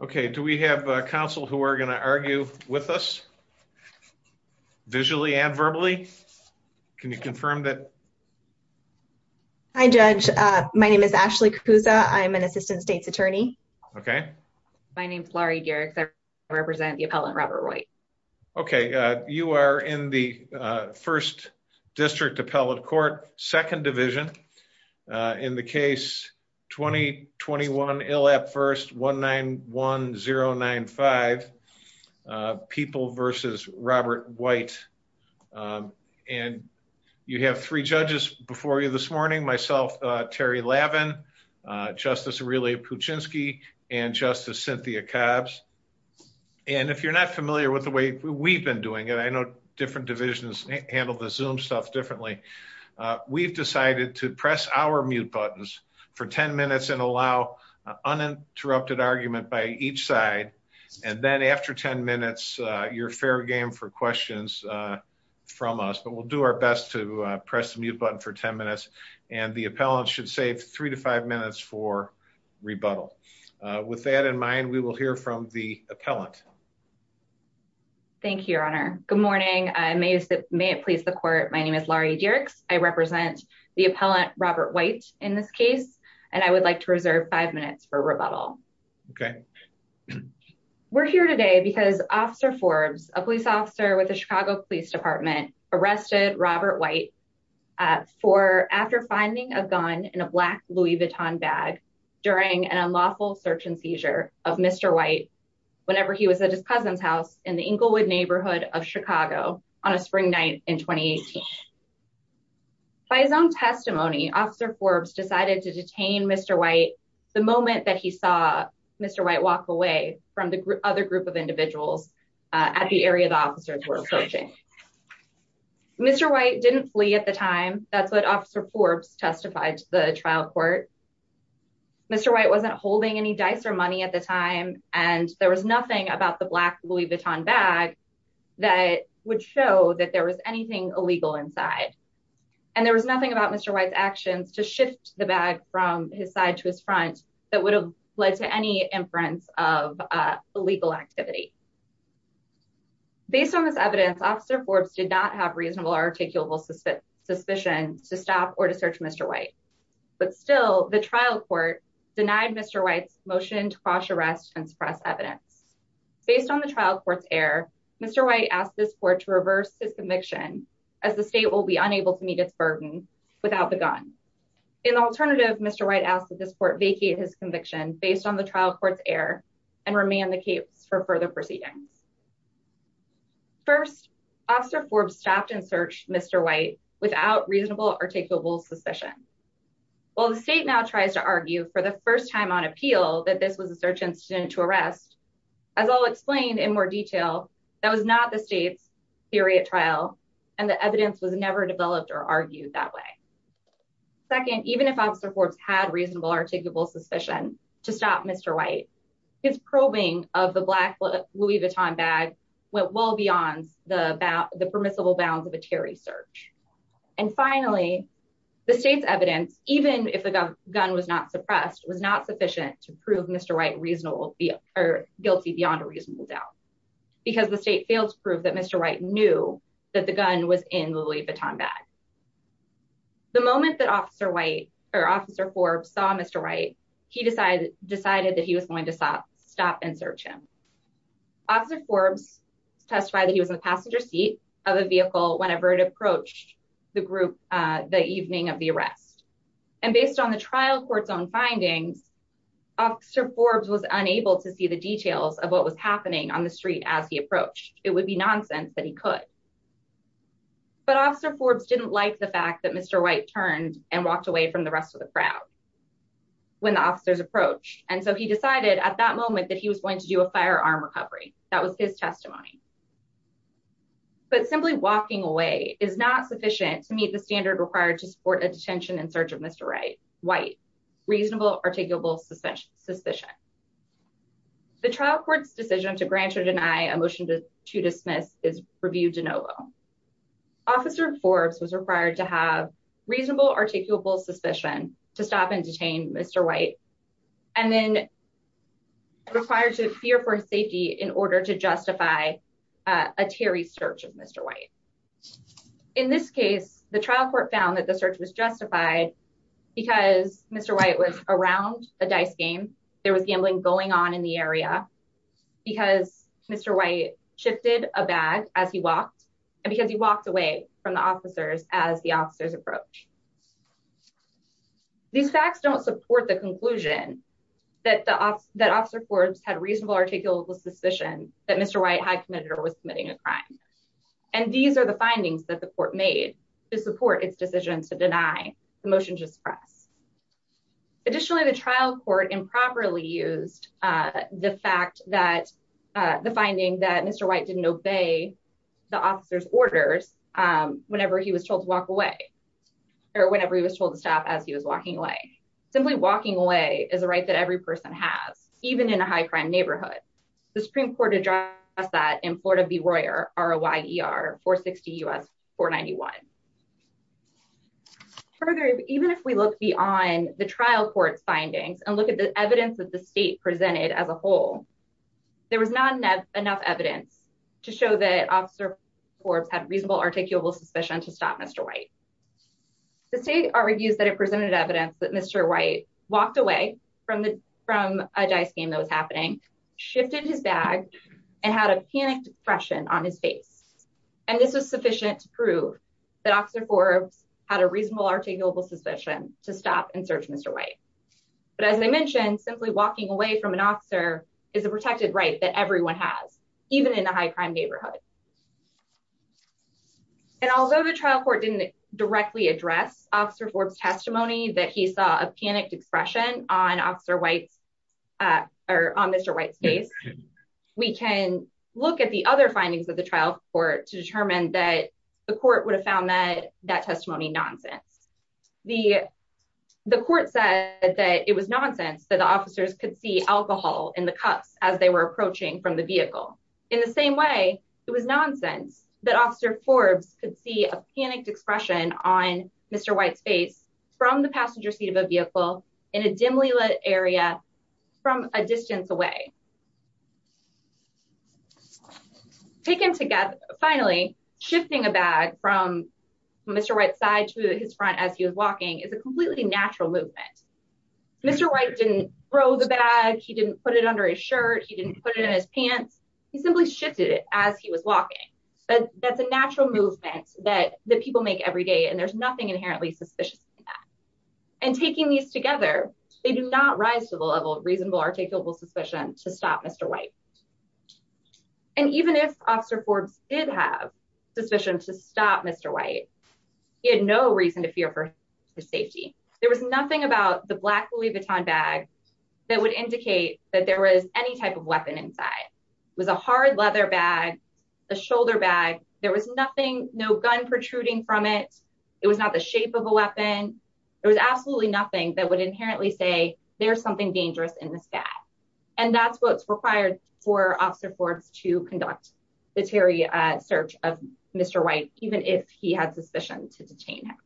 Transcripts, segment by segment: Okay, do we have a counsel who are going to argue with us, visually and verbally? Can you confirm that? Hi, Judge. My name is Ashley Kapusa. I'm an Assistant State's Attorney. Okay. My name is Laurie Garrix. I represent the appellant Robert Roy. Okay, you are in the First District Appellate Court, Second Division. In the case 20-21 ILAP First, 1-9-1-0-9-5, People v. Robert White. And you have three judges before you this morning. Myself, Terry Lavin, Justice Aurelia Puchinski, and Justice Cynthia Cobbs. And if you're not familiar with the way we've been doing it, I know different divisions handle the Zoom stuff differently. We've decided to press our mute buttons for 10 minutes and allow uninterrupted argument by each side. And then after 10 minutes, you're fair game for questions from us. But we'll do our best to press the mute button for 10 minutes. And the appellant should save three to five minutes for rebuttal. With that in mind, we will hear from the appellant. Thank you, Your Honor. Good morning. May it please the court. My name is Laurie Garrix. I represent the appellant Robert White in this case, and I would like to reserve five minutes for rebuttal. Okay. We're here today because Officer Forbes, a police officer with the Chicago Police Department, arrested Robert White for after finding a gun in a black Louis Vuitton bag during an unlawful search and seizure of Mr. White whenever he was at his cousin's house in the Englewood neighborhood of Chicago on a spring night in 2018. By his own testimony, Officer Forbes decided to detain Mr. White the moment that he saw Mr. White walk away from the other group of individuals at the area the officers were approaching. Mr. White didn't flee at the time. That's what Officer Forbes testified to the trial court. Mr. White wasn't holding any dice or money at the time, and there was nothing about the black Louis Vuitton bag that would show that there was anything illegal inside. And there was nothing about Mr. White's actions to shift the bag from his side to his front that would have led to any inference of illegal activity. Based on this evidence, Officer Forbes did not have reasonable or articulable suspicion to stop or to search Mr. White, but still the trial court denied Mr. White's motion to cross arrest and suppress evidence. Based on the trial court's error, Mr. White asked this court to reverse his conviction, as the state will be unable to meet its burden without the gun. In alternative, Mr. White asked that this court vacate his conviction based on the trial court's error and remand the case for further proceedings. First, Officer Forbes stopped and searched Mr. White without reasonable or articulable suspicion. While the state now tries to argue for the first time on appeal that this was a search incident to arrest, as I'll explain in more detail, that was not the state's theory at trial, and the evidence was never developed or argued that way. Second, even if Officer Forbes had reasonable or articulable suspicion to stop Mr. White, his probing of the black Louis Vuitton bag went well beyond the permissible bounds of a Terry search. And finally, the state's evidence, even if the gun was not suppressed, was not sufficient to prove Mr. Because the state failed to prove that Mr. White knew that the gun was in the Louis Vuitton bag. The moment that Officer White or Officer Forbes saw Mr. White, he decided that he was going to stop and search him. Officer Forbes testified that he was in the passenger seat of a vehicle whenever it approached the group the evening of the arrest. And based on the trial court's own findings, Officer Forbes was unable to see the details of what was happening on the street as he approached, it would be nonsense that he could. But Officer Forbes didn't like the fact that Mr. White turned and walked away from the rest of the crowd. When the officers approached, and so he decided at that moment that he was going to do a firearm recovery. That was his testimony. But simply walking away is not sufficient to meet the standard required to support a detention and search of Mr. White, reasonable, articulable suspicion. The trial court's decision to grant or deny a motion to dismiss is reviewed de novo. Officer Forbes was required to have reasonable articulable suspicion to stop and detain Mr. White, and then required to fear for safety in order to justify a Terry search of Mr. White. In this case, the trial court found that the search was justified because Mr. White was around a dice game, there was gambling going on in the area, because Mr. White shifted a bag as he walked, and because he walked away from the officers as the officers approach. These facts don't support the conclusion that the officer Forbes had reasonable articulable suspicion that Mr. White had committed or was committing a crime. And these are the findings that the court made to support its decision to deny the motion to suppress. Additionally, the trial court improperly used the fact that the finding that Mr. White didn't obey the officers orders whenever he was told to walk away. Or whenever he was told to stop as he was walking away. Simply walking away is a right that every person has, even in a high crime neighborhood. The Supreme Court addressed that in Florida B. Royer, R.O.Y.E.R. 460 U.S. 491. Further, even if we look beyond the trial court's findings and look at the evidence that the state presented as a whole, there was not enough evidence to show that officer Forbes had reasonable articulable suspicion to stop Mr. White. The state argues that it presented evidence that Mr. White walked away from a dice game that was happening, shifted his bag, and had a panicked expression on his face. And this was sufficient to prove that officer Forbes had a reasonable articulable suspicion to stop and search Mr. White. But as I mentioned, simply walking away from an officer is a protected right that everyone has, even in a high crime neighborhood. And although the trial court didn't directly address officer Forbes' testimony that he saw a panicked expression on officer White's, or on Mr. White's face, we can look at the other findings of the trial court to determine that the court would have found that testimony nonsense. The court said that it was nonsense that the officers could see alcohol in the cups as they were approaching from the vehicle. In the same way, it was nonsense that officer Forbes could see a panicked expression on Mr. White's face from the passenger seat of a vehicle in a dimly lit area from a distance away. Taken together, finally, shifting a bag from Mr. White's side to his front as he was walking is a completely natural movement. Mr. White didn't throw the bag, he didn't put it under his shirt, he didn't put it in his pants, he simply shifted it as he was walking. That's a natural movement that people make every day and there's nothing inherently suspicious in that. And taking these together, they do not rise to the level of reasonable articulable suspicion to stop Mr. White. And even if officer Forbes did have suspicion to stop Mr. White, he had no reason to fear for his safety. There was nothing about the black Louis Vuitton bag that would indicate that there was any type of weapon inside. It was a hard leather bag, a shoulder bag. There was nothing, no gun protruding from it. It was not the shape of a weapon. There was absolutely nothing that would inherently say there's something dangerous in this bag. And that's what's required for officer Forbes to conduct the Terry search of Mr. White, even if he had suspicion to detain him.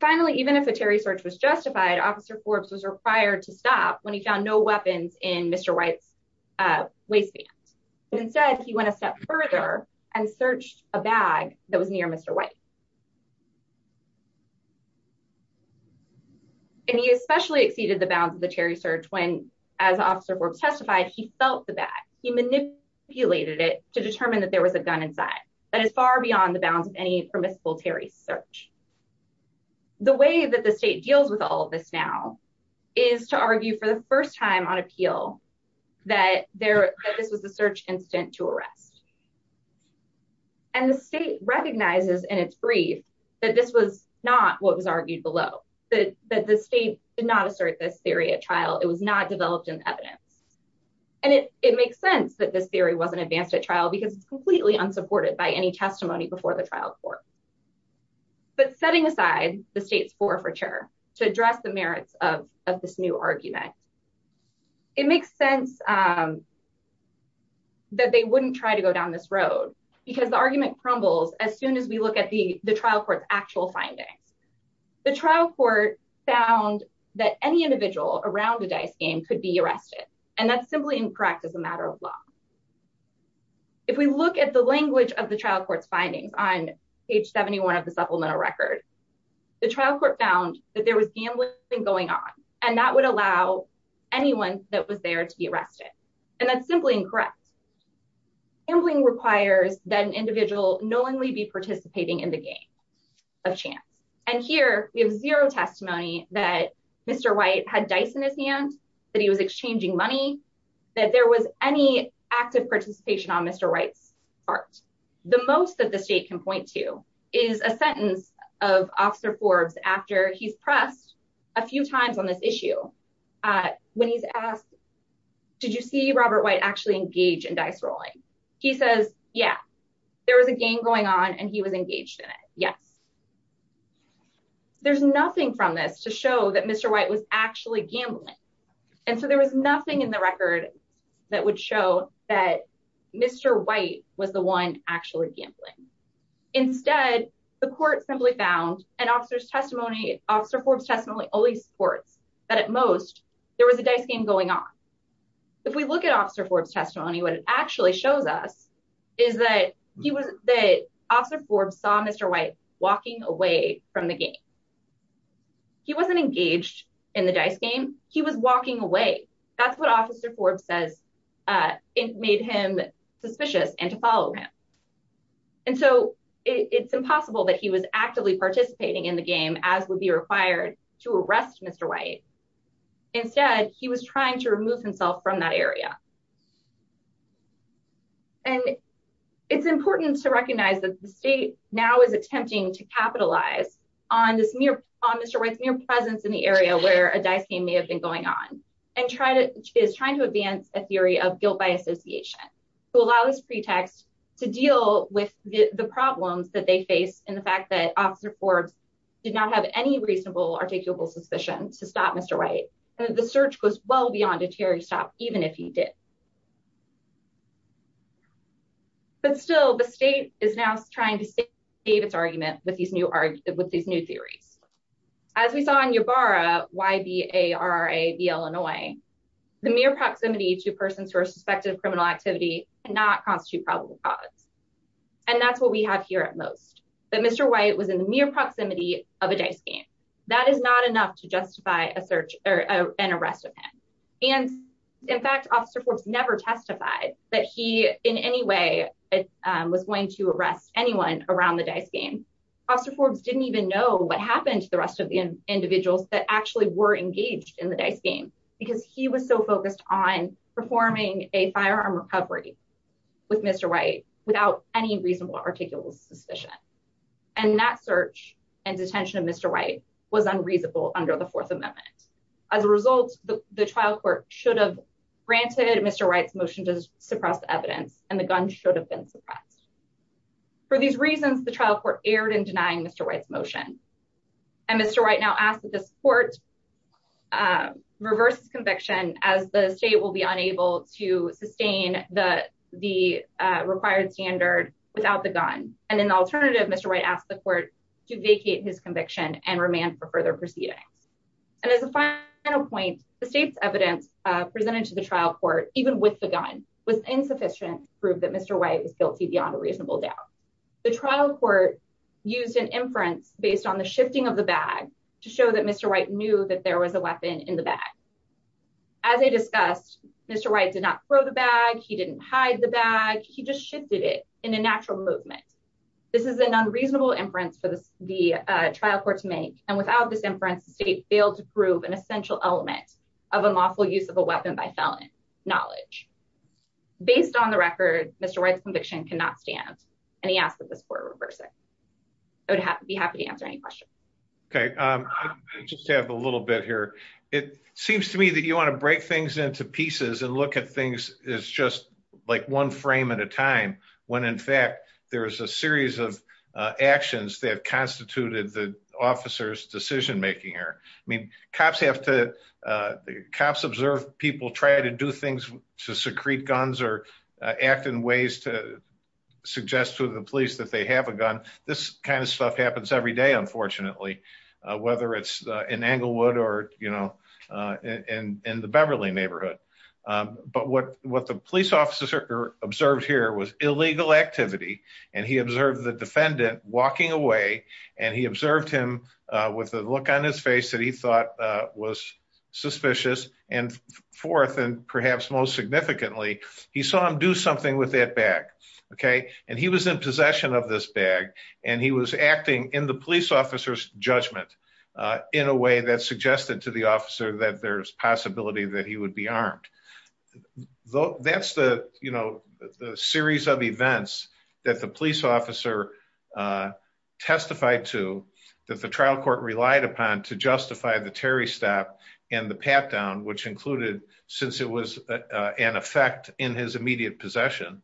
Finally, even if a Terry search was justified, officer Forbes was required to stop when he found no weapons in Mr. White's waistband. Instead, he went a step further and searched a bag that was near Mr. White. And he especially exceeded the bounds of the Terry search when, as officer Forbes testified, he felt the bag. He manipulated it to determine that there was a gun inside. That is far beyond the bounds of any permissible Terry search. The way that the state deals with all of this now is to argue for the first time on appeal that this was a search incident to arrest. And the state recognizes in its brief that this was not what was argued below, that the state did not assert this theory at trial. It was not developed in evidence. And it makes sense that this theory wasn't advanced at trial because it's completely unsupported by any testimony before the trial court. But setting aside the state's forfeiture to address the merits of this new argument, it makes sense that they wouldn't try to go down this road because the argument crumbles as soon as we look at the trial court's actual findings. The trial court found that any individual around the dice game could be arrested. And that's simply incorrect as a matter of law. If we look at the language of the trial court's findings on page 71 of the supplemental record, the trial court found that there was gambling going on. And that's simply incorrect. Gambling requires that an individual knowingly be participating in the game of chance. And here we have zero testimony that Mr. White had dice in his hand, that he was exchanging money, that there was any active participation on Mr. White's part. The most that the state can point to is a sentence of Officer Forbes after he's pressed a few times on this issue when he's asked, did you see Robert White actually engage in dice rolling? He says, yeah, there was a game going on and he was engaged in it. Yes. There's nothing from this to show that Mr. White was actually gambling. And so there was nothing in the record that would show that Mr. White was the one actually gambling. Instead, the court simply found an officer's testimony. Officer Forbes testimony always supports that at most there was a dice game going on. If we look at Officer Forbes testimony, what it actually shows us is that he was that Officer Forbes saw Mr. White walking away from the game. He wasn't engaged in the dice game. He was walking away. That's what Officer Forbes says. It made him suspicious and to follow him. And so it's impossible that he was actively participating in the game, as would be required to arrest Mr. White. Instead, he was trying to remove himself from that area. And it's important to recognize that the state now is attempting to capitalize on this mere on Mr. White's mere presence in the area where a dice game may have been going on and try to is trying to advance a theory of guilt by association to allow this pretext to deal with the problems that they face and the fact that Officer Forbes did not have any reasonable articulable suspicion to stop Mr. White. The search was well beyond a Terry stop, even if he did. But still, the state is now trying to save its argument with these new with these new theories. As we saw in Yabarra, Y-B-A-R-R-A-B, Illinois, the mere proximity to persons who are suspected of criminal activity and not constitute probable cause. And that's what we have here at most. But Mr. White was in the mere proximity of a dice game. That is not enough to justify a search or an arrest of him. And in fact, Officer Forbes never testified that he in any way was going to arrest anyone around the dice game. Officer Forbes didn't even know what happened to the rest of the individuals that actually were engaged in the dice game because he was so focused on performing a firearm recovery with Mr. White without any reasonable articulable suspicion. And that search and detention of Mr. White was unreasonable under the Fourth Amendment. As a result, the trial court should have granted Mr. White's motion to suppress evidence and the gun should have been suppressed. For these reasons, the trial court erred in denying Mr. White's motion. And Mr. White now asked that this court reverse conviction as the state will be unable to sustain the the required standard without the gun. And in the alternative, Mr. White asked the court to vacate his conviction and remand for further proceedings. And as a final point, the state's evidence presented to the trial court, even with the gun, was insufficient to prove that Mr. White was guilty beyond a reasonable doubt. The trial court used an inference based on the shifting of the bag to show that Mr. White knew that there was a weapon in the bag. As I discussed, Mr. White did not throw the bag. He didn't hide the bag. He just shifted it in a natural movement. This is an unreasonable inference for the trial court to make. And without this inference, the state failed to prove an essential element of a lawful use of a weapon by felon knowledge. Based on the record, Mr. White's conviction cannot stand. And he asked that this court reverse it. I would be happy to answer any questions. Okay. I just have a little bit here. It seems to me that you want to break things into pieces and look at things as just like one frame at a time when, in fact, there is a series of actions that have constituted the officer's decision making here. I mean, cops have to, cops observe people try to do things to secrete guns or act in ways to suggest to the police that they have a gun. This kind of stuff happens every day, unfortunately. Whether it's in Englewood or, you know, in the Beverly neighborhood. But what the police officer observed here was illegal activity. And he observed the defendant walking away. And he observed him with a look on his face that he thought was suspicious. And fourth, and perhaps most significantly, he saw him do something with that bag. Okay. And he was in possession of this bag. And he was acting in the police officer's judgment in a way that suggested to the officer that there's possibility that he would be armed. That's the, you know, the series of events that the police officer testified to that the trial court relied upon to justify the Terry stop and the pat down which included, since it was an effect in his immediate possession.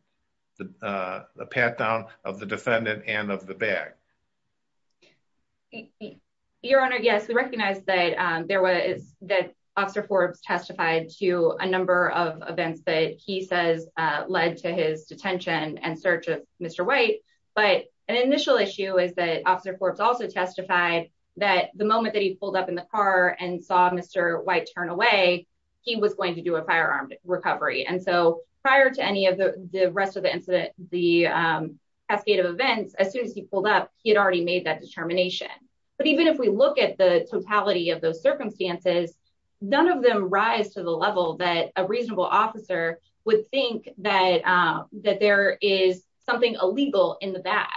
The pat down of the defendant and of the bag. Your Honor, yes, we recognize that there was that officer Forbes testified to a number of events that he says led to his detention and search of Mr. White, but an initial issue is that officer Forbes also testified that the moment that he pulled up in the car and saw Mr. He was going to do a firearm recovery and so prior to any of the rest of the incident, the cascade of events as soon as he pulled up, he had already made that determination. But even if we look at the totality of those circumstances, none of them rise to the level that a reasonable officer would think that that there is something illegal in the bag.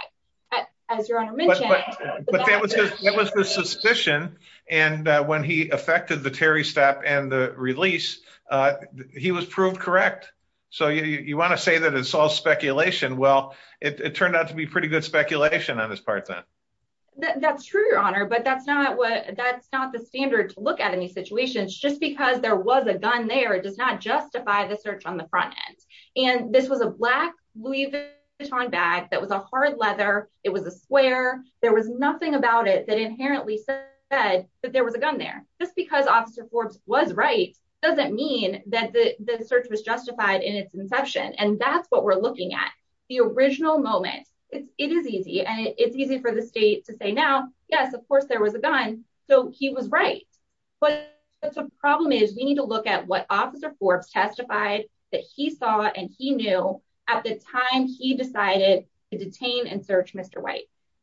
As your honor mentioned, it was the suspicion. And when he affected the Terry step and the release. He was proved correct. So you want to say that it's all speculation. Well, it turned out to be pretty good speculation on this part then. That's true, Your Honor, but that's not what that's not the standard to look at any situations just because there was a gun there does not justify the search on the front end. And this was a black Louis Vuitton bag that was a hard leather. It was a square, there was nothing about it that inherently said that there was a gun there, just because officer Forbes was right doesn't mean that the search was justified in its inception and that's what we're looking at the original moment, it is easy and it's easy for the state to say now, yes of course there was a gun, so he was right. But that's a problem is we need to look at what officer Forbes testified that he saw and he knew at the time he decided to detain and search Mr.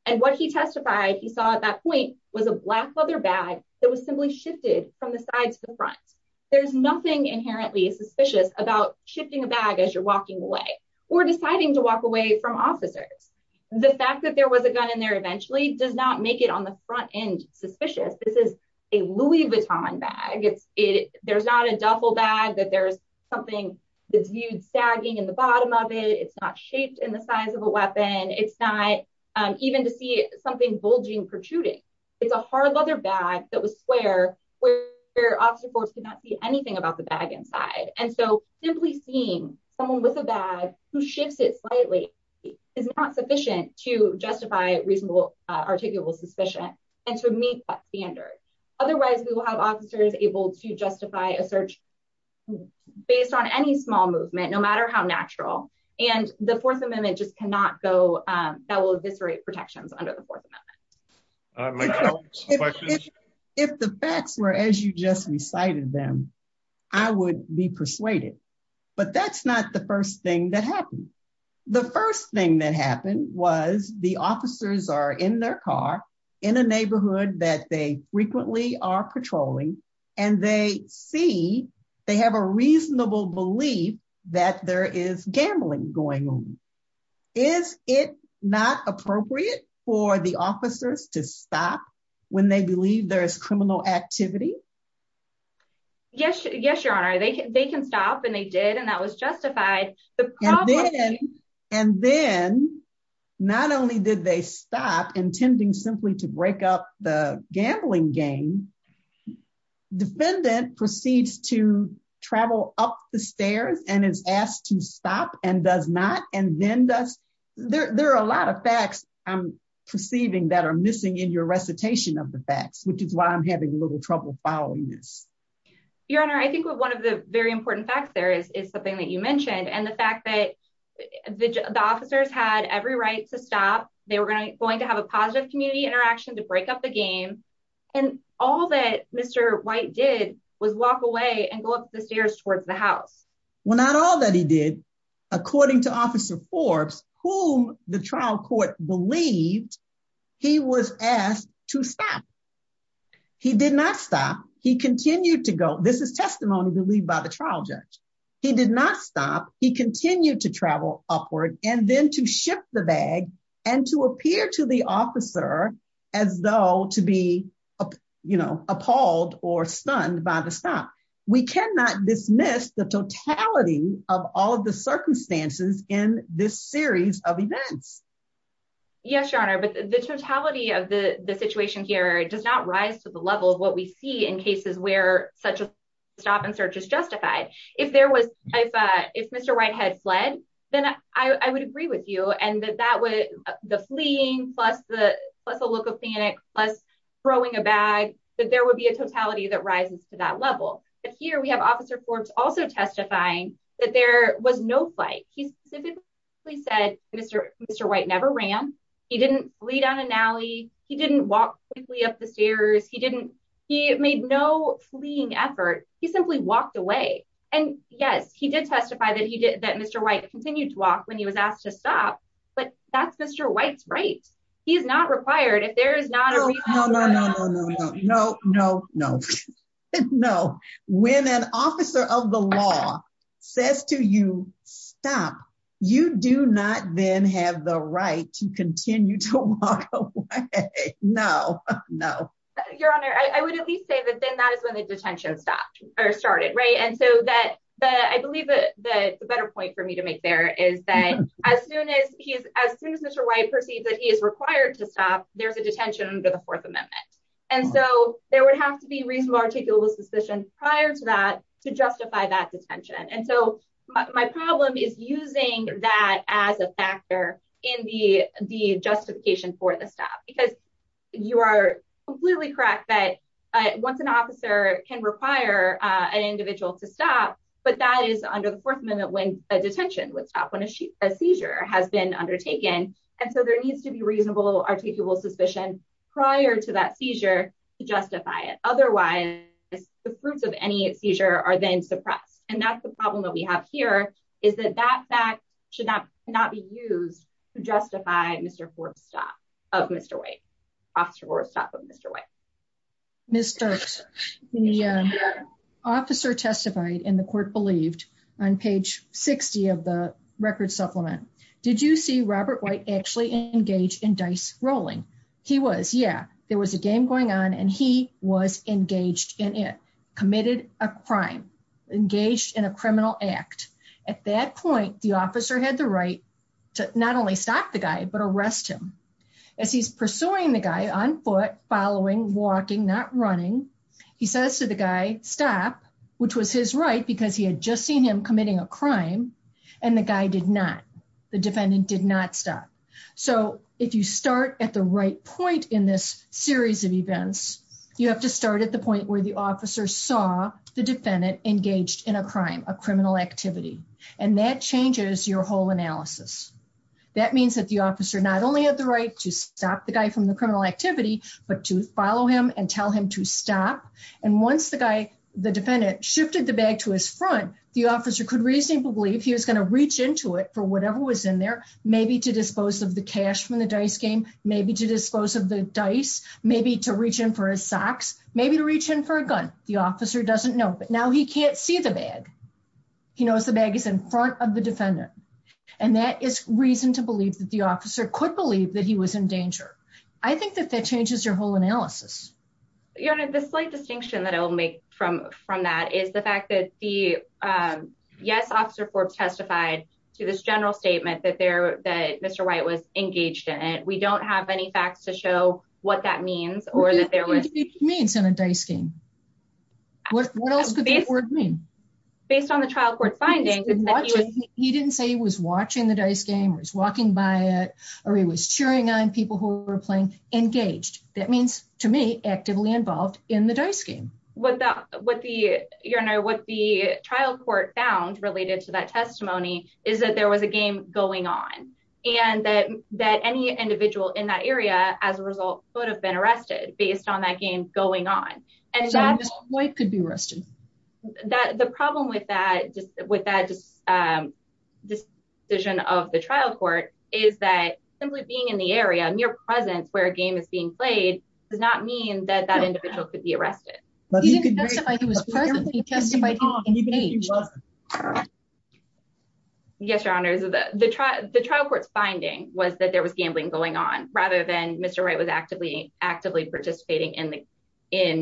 And what he testified he saw at that point was a black leather bag that was simply shifted from the sides to the front. There's nothing inherently suspicious about shipping a bag as you're walking away, or deciding to walk away from officers. The fact that there was a gun in there eventually does not make it on the front end suspicious this is a Louis Vuitton bag it's it, there's not a duffel bag that there's something that's viewed sagging in the bottom of it it's not shaped in the size of a weapon, it's not even to see something bulging protruding. It's a hard leather bag that was square, where, where officer Forbes did not see anything about the bag inside and so simply seeing someone with a bag, who shifts it slightly is not sufficient to justify reasonable articulable suspicion, and to meet that standard. Otherwise we will have officers able to justify a search, based on any small movement no matter how natural, and the Fourth Amendment just cannot go. That will eviscerate protections under the Fourth Amendment. If the facts were as you just recited them. I would be persuaded. But that's not the first thing that happened. The first thing that happened was the officers are in their car in a neighborhood that they frequently are patrolling, and they see, they have a Yes, yes, Your Honor, they can they can stop and they did and that was justified. And then, not only did they stop intending simply to break up the gambling game. Defendant proceeds to travel up the stairs and is asked to stop and does not, and then does. There are a lot of facts, I'm perceiving that are missing in your recitation of the facts, which is why I'm having a little trouble following this. Your Honor, I think one of the very important facts there is, is something that you mentioned and the fact that the officers had every right to stop, they were going to have a positive community interaction to break up the game. And all that Mr. White did was walk away and go up the stairs towards the house. Well, not all that he did. According to Officer Forbes, whom the trial court believed he was asked to stop. He did not stop. He continued to go. This is testimony believed by the trial judge. He did not stop. He continued to travel upward and then to ship the bag and to appear to the officer as though to be, you know, appalled or stunned by the stop. We cannot dismiss the totality of all of the circumstances in this series of events. Yes, Your Honor, but the totality of the situation here does not rise to the level of what we see in cases where such a stop and search is justified. If there was, if Mr. White had fled, then I would agree with you. And that that would, the fleeing plus the look of panic, plus throwing a bag, that there would be a totality that rises to that level. But here we have Officer Forbes also testifying that there was no flight. He specifically said Mr. White never ran. He didn't flee down an alley. He didn't walk quickly up the stairs. He didn't, he made no fleeing effort. He simply walked away. And yes, he did testify that he did, that Mr. White continued to walk when he was asked to stop. But that's Mr. White's right. He is not required if there is not a reason. No, no, no, no, no, no, no, no. When an officer of the law says to you, stop, you do not then have the right to continue to walk away. No, no. Your Honor, I would at least say that then that is when the detention stopped or started. Right. And so that I believe that the better point for me to make there is that as soon as he is, as soon as Mr. White perceived that he is required to stop, there's a detention under the Fourth Amendment. And so there would have to be reasonable, articulable suspicion prior to that to justify that detention. And so my problem is using that as a factor in the justification for the stop because you are completely correct that once an officer can require an individual to stop, but that is under the Fourth Amendment when a detention would stop when a seizure has been undertaken. And so there needs to be reasonable, articulable suspicion prior to that seizure to justify it. Otherwise, the fruits of any seizure are then suppressed. And that's the problem that we have here is that that fact should not not be used to justify Mr. Fourth Stop of Mr. White, Officer Fourth Stop of Mr. White. Mr. Officer testified in the court believed on page 60 of the record supplement. Did you see Robert White actually engaged in dice rolling. He was Yeah, there was a game going on and he was engaged in it committed a crime engaged in a criminal act. At that point, the officer had the right to not only stop the guy but arrest him as he's pursuing the guy on foot following walking not running. He says to the guy, stop, which was his right because he had just seen him committing a crime. And the guy did not the defendant did not stop. So if you start at the right point in this series of events, you have to start at the point where the officer saw the defendant engaged in a crime a criminal activity, and that changes your whole analysis. That means that the officer not only have the right to stop the guy from the criminal activity, but to follow him and tell him to stop. And once the guy, the defendant shifted the bag to his front, the officer could reasonably believe he was going to reach into it for whatever was in there, maybe to dispose of the cash from the dice game, maybe to dispose of the dice, maybe to reach in for a socks, maybe to reach in for a gun, the officer doesn't know but now he can't see the bag. He knows the bag is in front of the defendant. And that is reason to believe that the officer could believe that he was in danger. I think that that changes your whole analysis. The slight distinction that I will make from from that is the fact that the yes officer for testified to this general statement that there that Mr. White was engaged in it, we don't have any facts to show what that means, or that there was means in a dice game. Based on the trial court findings. He didn't say he was watching the dice game was walking by it, or he was cheering on people who were playing engaged, that means to me actively involved in the dice game. What the trial court found related to that testimony is that there was a game going on, and that that any individual in that area, as a result, would have been arrested based on that game going on. And that could be arrested. That the problem with that just with that just this vision of the trial court is that simply being in the area and your presence where a game is being played does not mean that that individual could be arrested. He testified. Yes, Your Honor, the trial court's finding was that there was gambling going on, rather than Mr right was actively, actively participating in the, in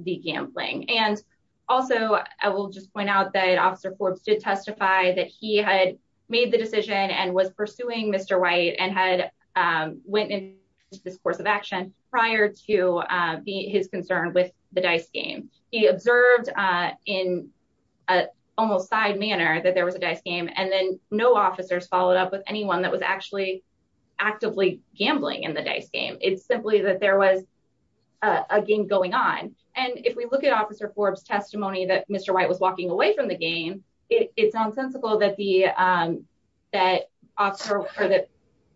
the gambling and also, I will just point out that officer Forbes did testify that he had made the decision and was He observed in an almost side manner that there was a dice game and then no officers followed up with anyone that was actually actively gambling in the dice game, it's simply that there was a game going on. And if we look at officer Forbes testimony that Mr white was walking away from the game. It's nonsensical that the that officer or that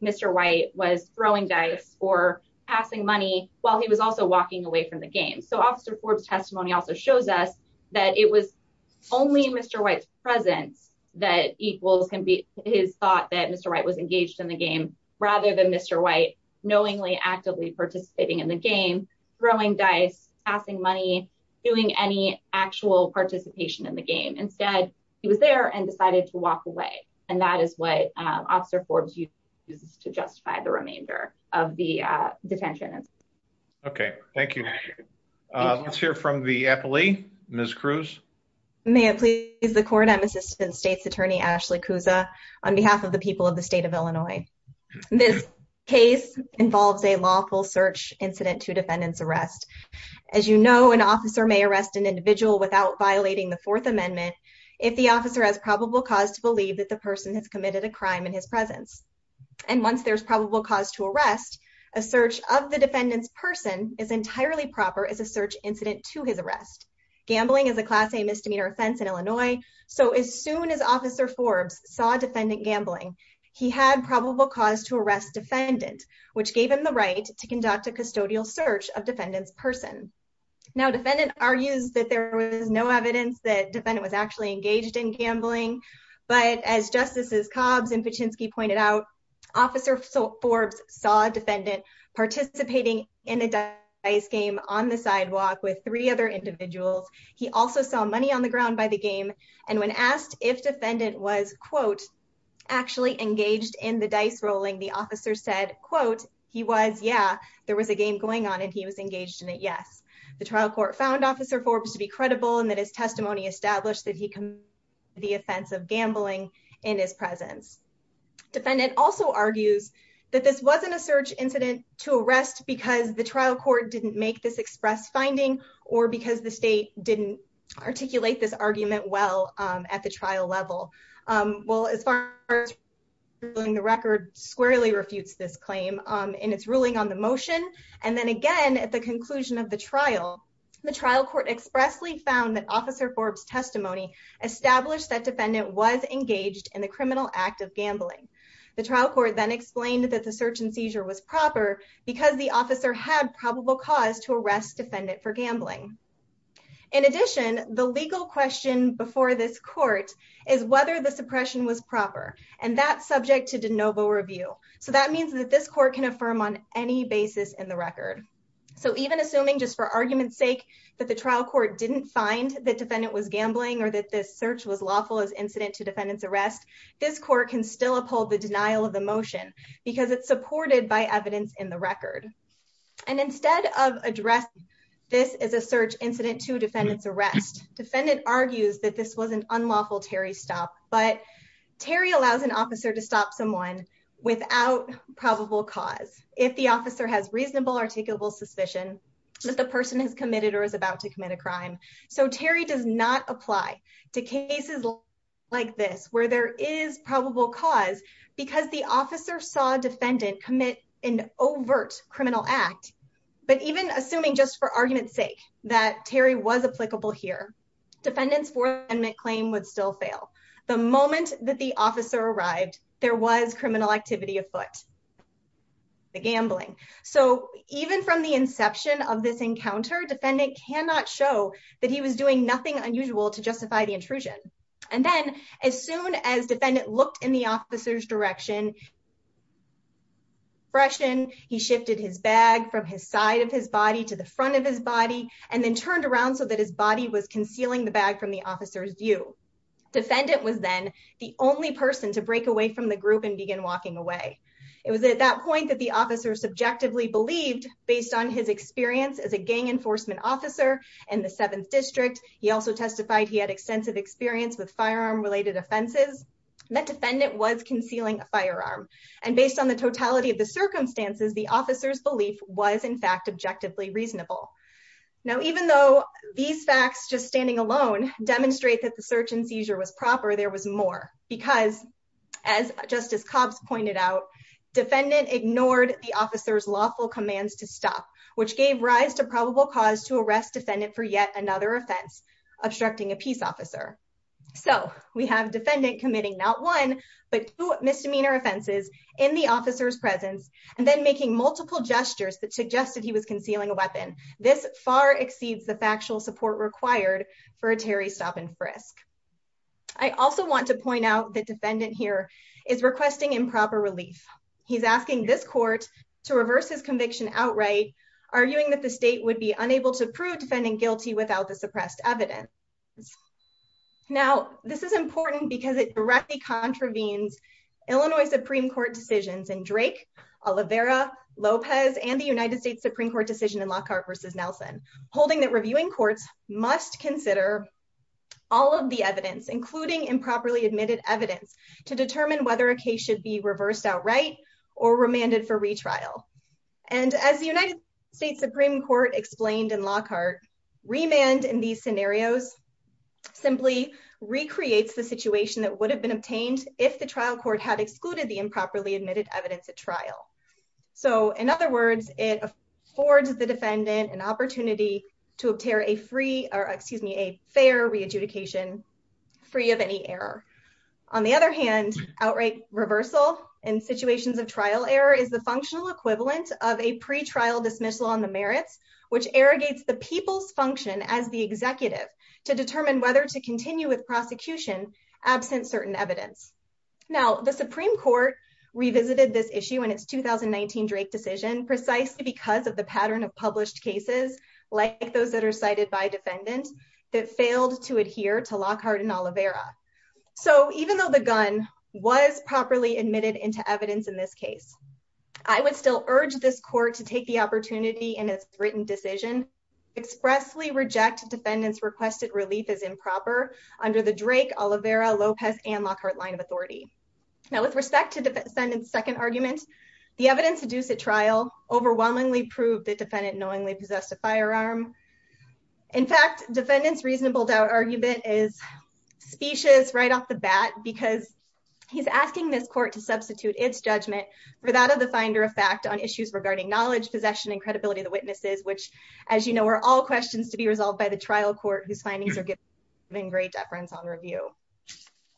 Mr white was throwing dice or passing money, while he was also walking away from the game so officer Forbes testimony also shows us that it was only Mr White's presence that equals can be his thought that Mr right was engaged in the game, rather than Mr white knowingly actively participating in the game, throwing dice, passing money, doing any actual participation in the game instead, he was there and decided to walk away. And that is what officer Forbes you to justify the remainder of the detention. Okay, thank you. Let's hear from the Eppley, Miss Cruz. May it please the court I'm assistant state's attorney Ashley Kuza on behalf of the people of the state of Illinois. This case involves a lawful search incident to defendants arrest. As you know, an officer may arrest an individual without violating the Fourth Amendment. If the officer has probable cause to believe that the person has committed a crime in his presence. And once there's probable cause to arrest a search of the defendants person is entirely proper as a search incident to his arrest gambling is a class a misdemeanor offense in Illinois. So as soon as officer Forbes saw defendant gambling. He had probable cause to arrest defendant, which gave him the right to conduct a custodial search of defendants person. Now defendant argues that there was no evidence that defendant was actually engaged in gambling, but as justices Cobbs and Pachinksi pointed out, officer. So Forbes saw defendant participating in a dice game on the sidewalk with three other individuals. He also saw money on the ground by the game. And when asked if defendant was quote actually engaged in the dice rolling the officer said, quote, he was. Yeah, there was a game going on and he was engaged in it. Yes, the trial court found officer Forbes to be credible and that his testimony established that he can the offensive gambling in his presence. Defendant also argues that this wasn't a search incident to arrest because the trial court didn't make this express finding or because the state didn't articulate this argument well at the trial level. Well, as far as the record squarely refutes this claim in its ruling on the motion. And then again at the conclusion of the trial. The trial court expressly found that officer Forbes testimony established that defendant was engaged in the criminal act of gambling. The trial court then explained that the search and seizure was proper because the officer had probable cause to arrest defendant for gambling. In addition, the legal question before this court is whether the suppression was proper and that subject to de novo review. So that means that this court can affirm on any basis in the record. So even assuming just for argument's sake that the trial court didn't find that defendant was gambling or that this search was lawful as incident to defendants arrest. This court can still uphold the denial of the motion, because it's supported by evidence in the record. And instead of address. This is a search incident to defendants arrest defendant argues that this wasn't unlawful Terry stop, but Terry allows an officer to stop someone without probable cause, if the officer has reasonable articulable suspicion. That the person is committed or is about to commit a crime. So Terry does not apply to cases like this where there is probable cause because the officer saw defendant commit an overt criminal act. But even assuming just for argument's sake that Terry was applicable here defendants for and make claim would still fail. The moment that the officer arrived, there was criminal activity afoot. The gambling. So, even from the inception of this encounter defendant cannot show that he was doing nothing unusual to justify the intrusion. And then, as soon as defendant looked in the officer's direction. Freshen he shifted his bag from his side of his body to the front of his body and then turned around so that his body was concealing the bag from the officer's view. Defendant was then the only person to break away from the group and begin walking away. It was at that point that the officer subjectively believed based on his experience as a gang enforcement officer and the seventh district. He also testified he had extensive experience with firearm related offenses. That defendant was concealing a firearm and based on the totality of the circumstances. The officer's belief was in fact objectively reasonable. Now, even though these facts just standing alone demonstrate that the search and seizure was proper. There was more because As justice cops pointed out defendant ignored the officers lawful commands to stop which gave rise to probable cause to arrest defendant for yet another offense obstructing a peace officer. So we have defendant committing not one but two misdemeanor offenses in the officer's presence and then making multiple gestures that suggested he was concealing a weapon. This far exceeds the factual support required for a Terry stop and frisk. I also want to point out the defendant here is requesting improper relief. He's asking this court to reverse his conviction outright arguing that the state would be unable to prove defending guilty without the suppressed evidence. Now, this is important because it directly contravenes Illinois Supreme Court decisions and Drake Olivera Lopez and the United States Supreme Court decision in Lockhart versus Nelson holding that reviewing courts must consider All of the evidence, including improperly admitted evidence to determine whether a case should be reversed outright or remanded for retrial. And as the United States Supreme Court explained in Lockhart remand in these scenarios simply recreates the situation that would have been obtained if the trial court had excluded the improperly admitted evidence at trial. So, in other words, it affords the defendant an opportunity to tear a free or excuse me a fair re adjudication free of any error. On the other hand, outright reversal and situations of trial error is the functional equivalent of a pre trial dismissal on the merits, which irrigates the people's function as the executive to determine whether to continue with prosecution absent certain evidence. Now the Supreme Court revisited this issue and it's 2019 Drake decision precisely because of the pattern of published cases like those that are cited by defendant that failed to adhere to Lockhart and Olivera. So even though the gun was properly admitted into evidence in this case, I would still urge this court to take the opportunity and it's written decision expressly reject defendants requested relief is improper under the Drake Olivera Lopez and Lockhart line of authority. Now, with respect to the second argument, the evidence to do set trial overwhelmingly proved that defendant knowingly possessed a firearm. In fact, defendants reasonable doubt argument is specious right off the bat because he's asking this court to substitute its judgment for that of the finder of fact on issues regarding knowledge possession and credibility of the witnesses which, as you know, are all questions to be resolved by the trial court whose findings are given in great deference on review.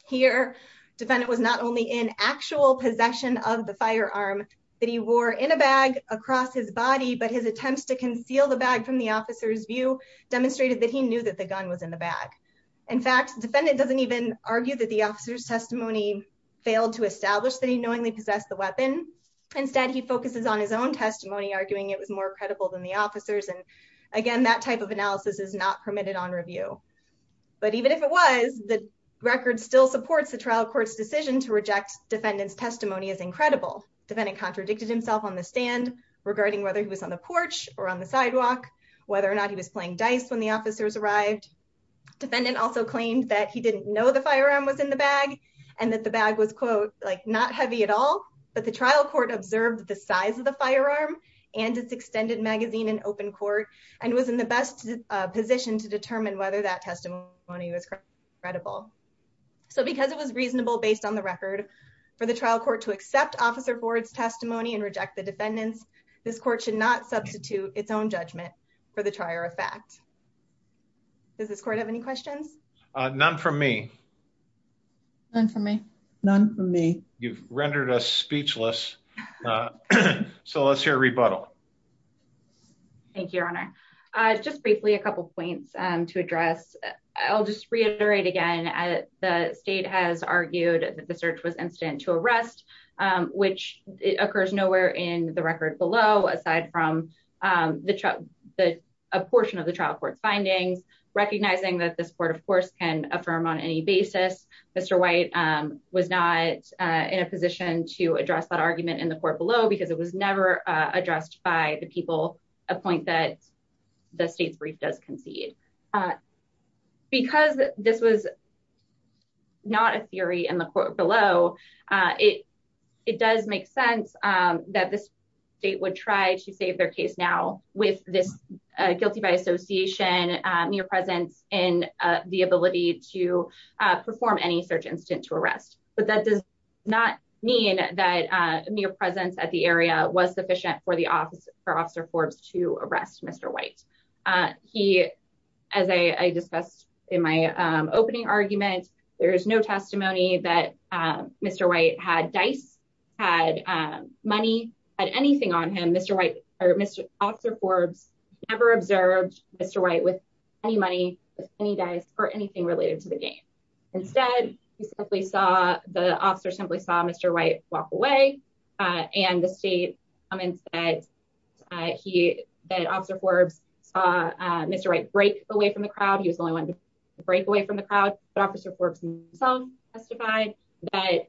Here, defendant was not only in actual possession of the firearm that he wore in a bag across his body but his attempts to conceal the bag from the officer's view demonstrated that he knew that the gun was in the bag. In fact, defendant doesn't even argue that the officer's testimony failed to establish that he knowingly possessed the weapon. Instead, he focuses on his own testimony arguing it was more credible than the officers and again that type of analysis is not permitted on review. But even if it was, the record still supports the trial court's decision to reject defendant's testimony as incredible. Defendant contradicted himself on the stand regarding whether he was on the porch or on the sidewalk, whether or not he was playing dice when the officers arrived. Defendant also claimed that he didn't know the firearm was in the bag and that the bag was quote like not heavy at all, but the trial court observed the size of the firearm and its extended magazine in open court and was in the best position to determine whether that testimony was credible. So because it was reasonable based on the record for the trial court to accept officer boards testimony and reject the defendants, this court should not substitute its own judgment for the trier of fact. Does this court have any questions? None from me. None from me. None from me. You've rendered us speechless. So let's hear a rebuttal. Thank you, Your Honor. Just briefly, a couple points to address. I'll just reiterate again, the state has argued that the search was instant to arrest, which occurs nowhere in the record below aside from a portion of the trial court's findings, recognizing that this court of course can affirm on any basis. Mr. White was not in a position to address that argument in the court below because it was never addressed by the people, a point that the state's brief does concede. Because this was not a theory in the court below it. It does make sense that this date would try to save their case now with this guilty by association near presence in the ability to perform any search instant to arrest, but that does not mean that mere presence at the area was sufficient for the office for as I discussed in my opening argument, there is no testimony that Mr. White had dice had money at anything on him, Mr. White, or Mr. Officer Forbes ever observed Mr. White with any money, any dice or anything related to the game. Instead, we saw the officer simply saw Mr. White walk away. And the state. I'm in bed. He that officer Forbes saw Mr right break away from the crowd he was the only one to break away from the crowd, but officer Forbes song testified that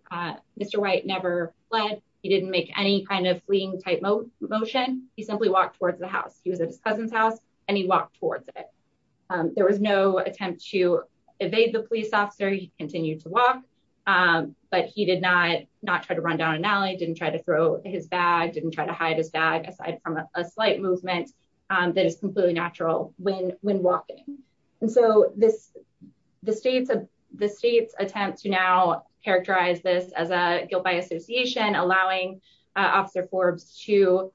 Mr. White never fled. He didn't make any kind of fleeing type of motion, he simply walked towards the house, he was at his cousin's house, and he walked towards it. There was no attempt to evade the police officer he continued to walk. But he did not not try to run down an alley didn't try to throw his bag didn't try to hide his bag aside from a slight movement. That is completely natural, when, when walking. And so, this, the states of the states attempt to now characterize this as a guilt by association allowing officer Forbes to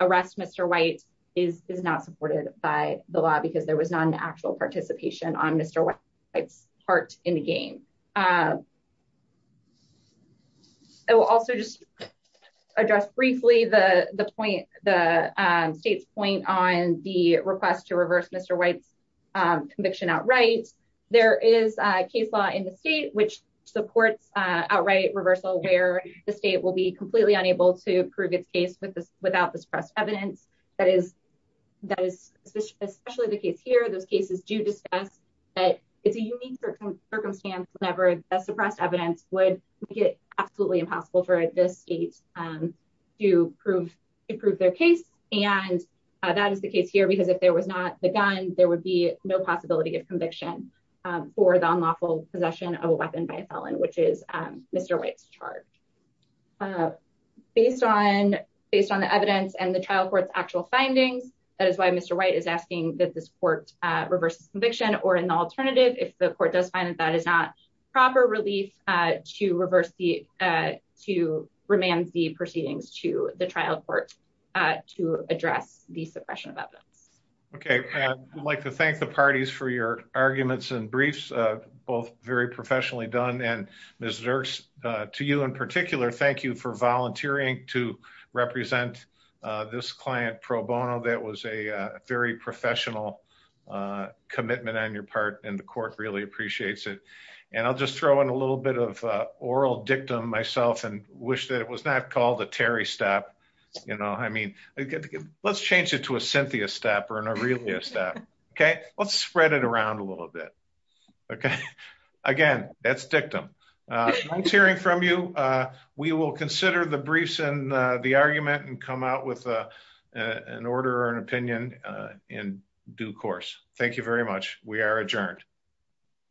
arrest Mr. White is not supported by the law because there was not an actual participation on Mr. It's part in the game. I will also just address briefly the, the point, the state's point on the request to reverse Mr. White's conviction outright. There is a case law in the state which supports outright reversal where the state will be completely unable to prove its case with this without this press evidence that is that is especially the case here those cases do discuss that it's a unique circumstance never suppressed evidence would get absolutely impossible for this state to prove improve their case, and that is the case here because if there was not the gun, there would be no possibility of conviction for the unlawful possession of a weapon by a felon which is Mr. White's chart. Based on based on the evidence and the trial courts actual findings. That is why Mr. White is asking that this court reverses conviction or an alternative if the court does find that that is not proper relief to reverse the to remain the proceedings to the trial court to address the suppression of evidence. Okay. I'd like to thank the parties for your arguments and briefs, both very professionally done and Missouri to you in particular thank you for volunteering to represent this client pro bono that was a very professional commitment on your part, and the court really appreciates that. Okay, let's spread it around a little bit. Okay. Again, that's dictum. I'm hearing from you. We will consider the briefs and the argument and come out with an order and opinion in due course. Thank you very much. We are adjourned.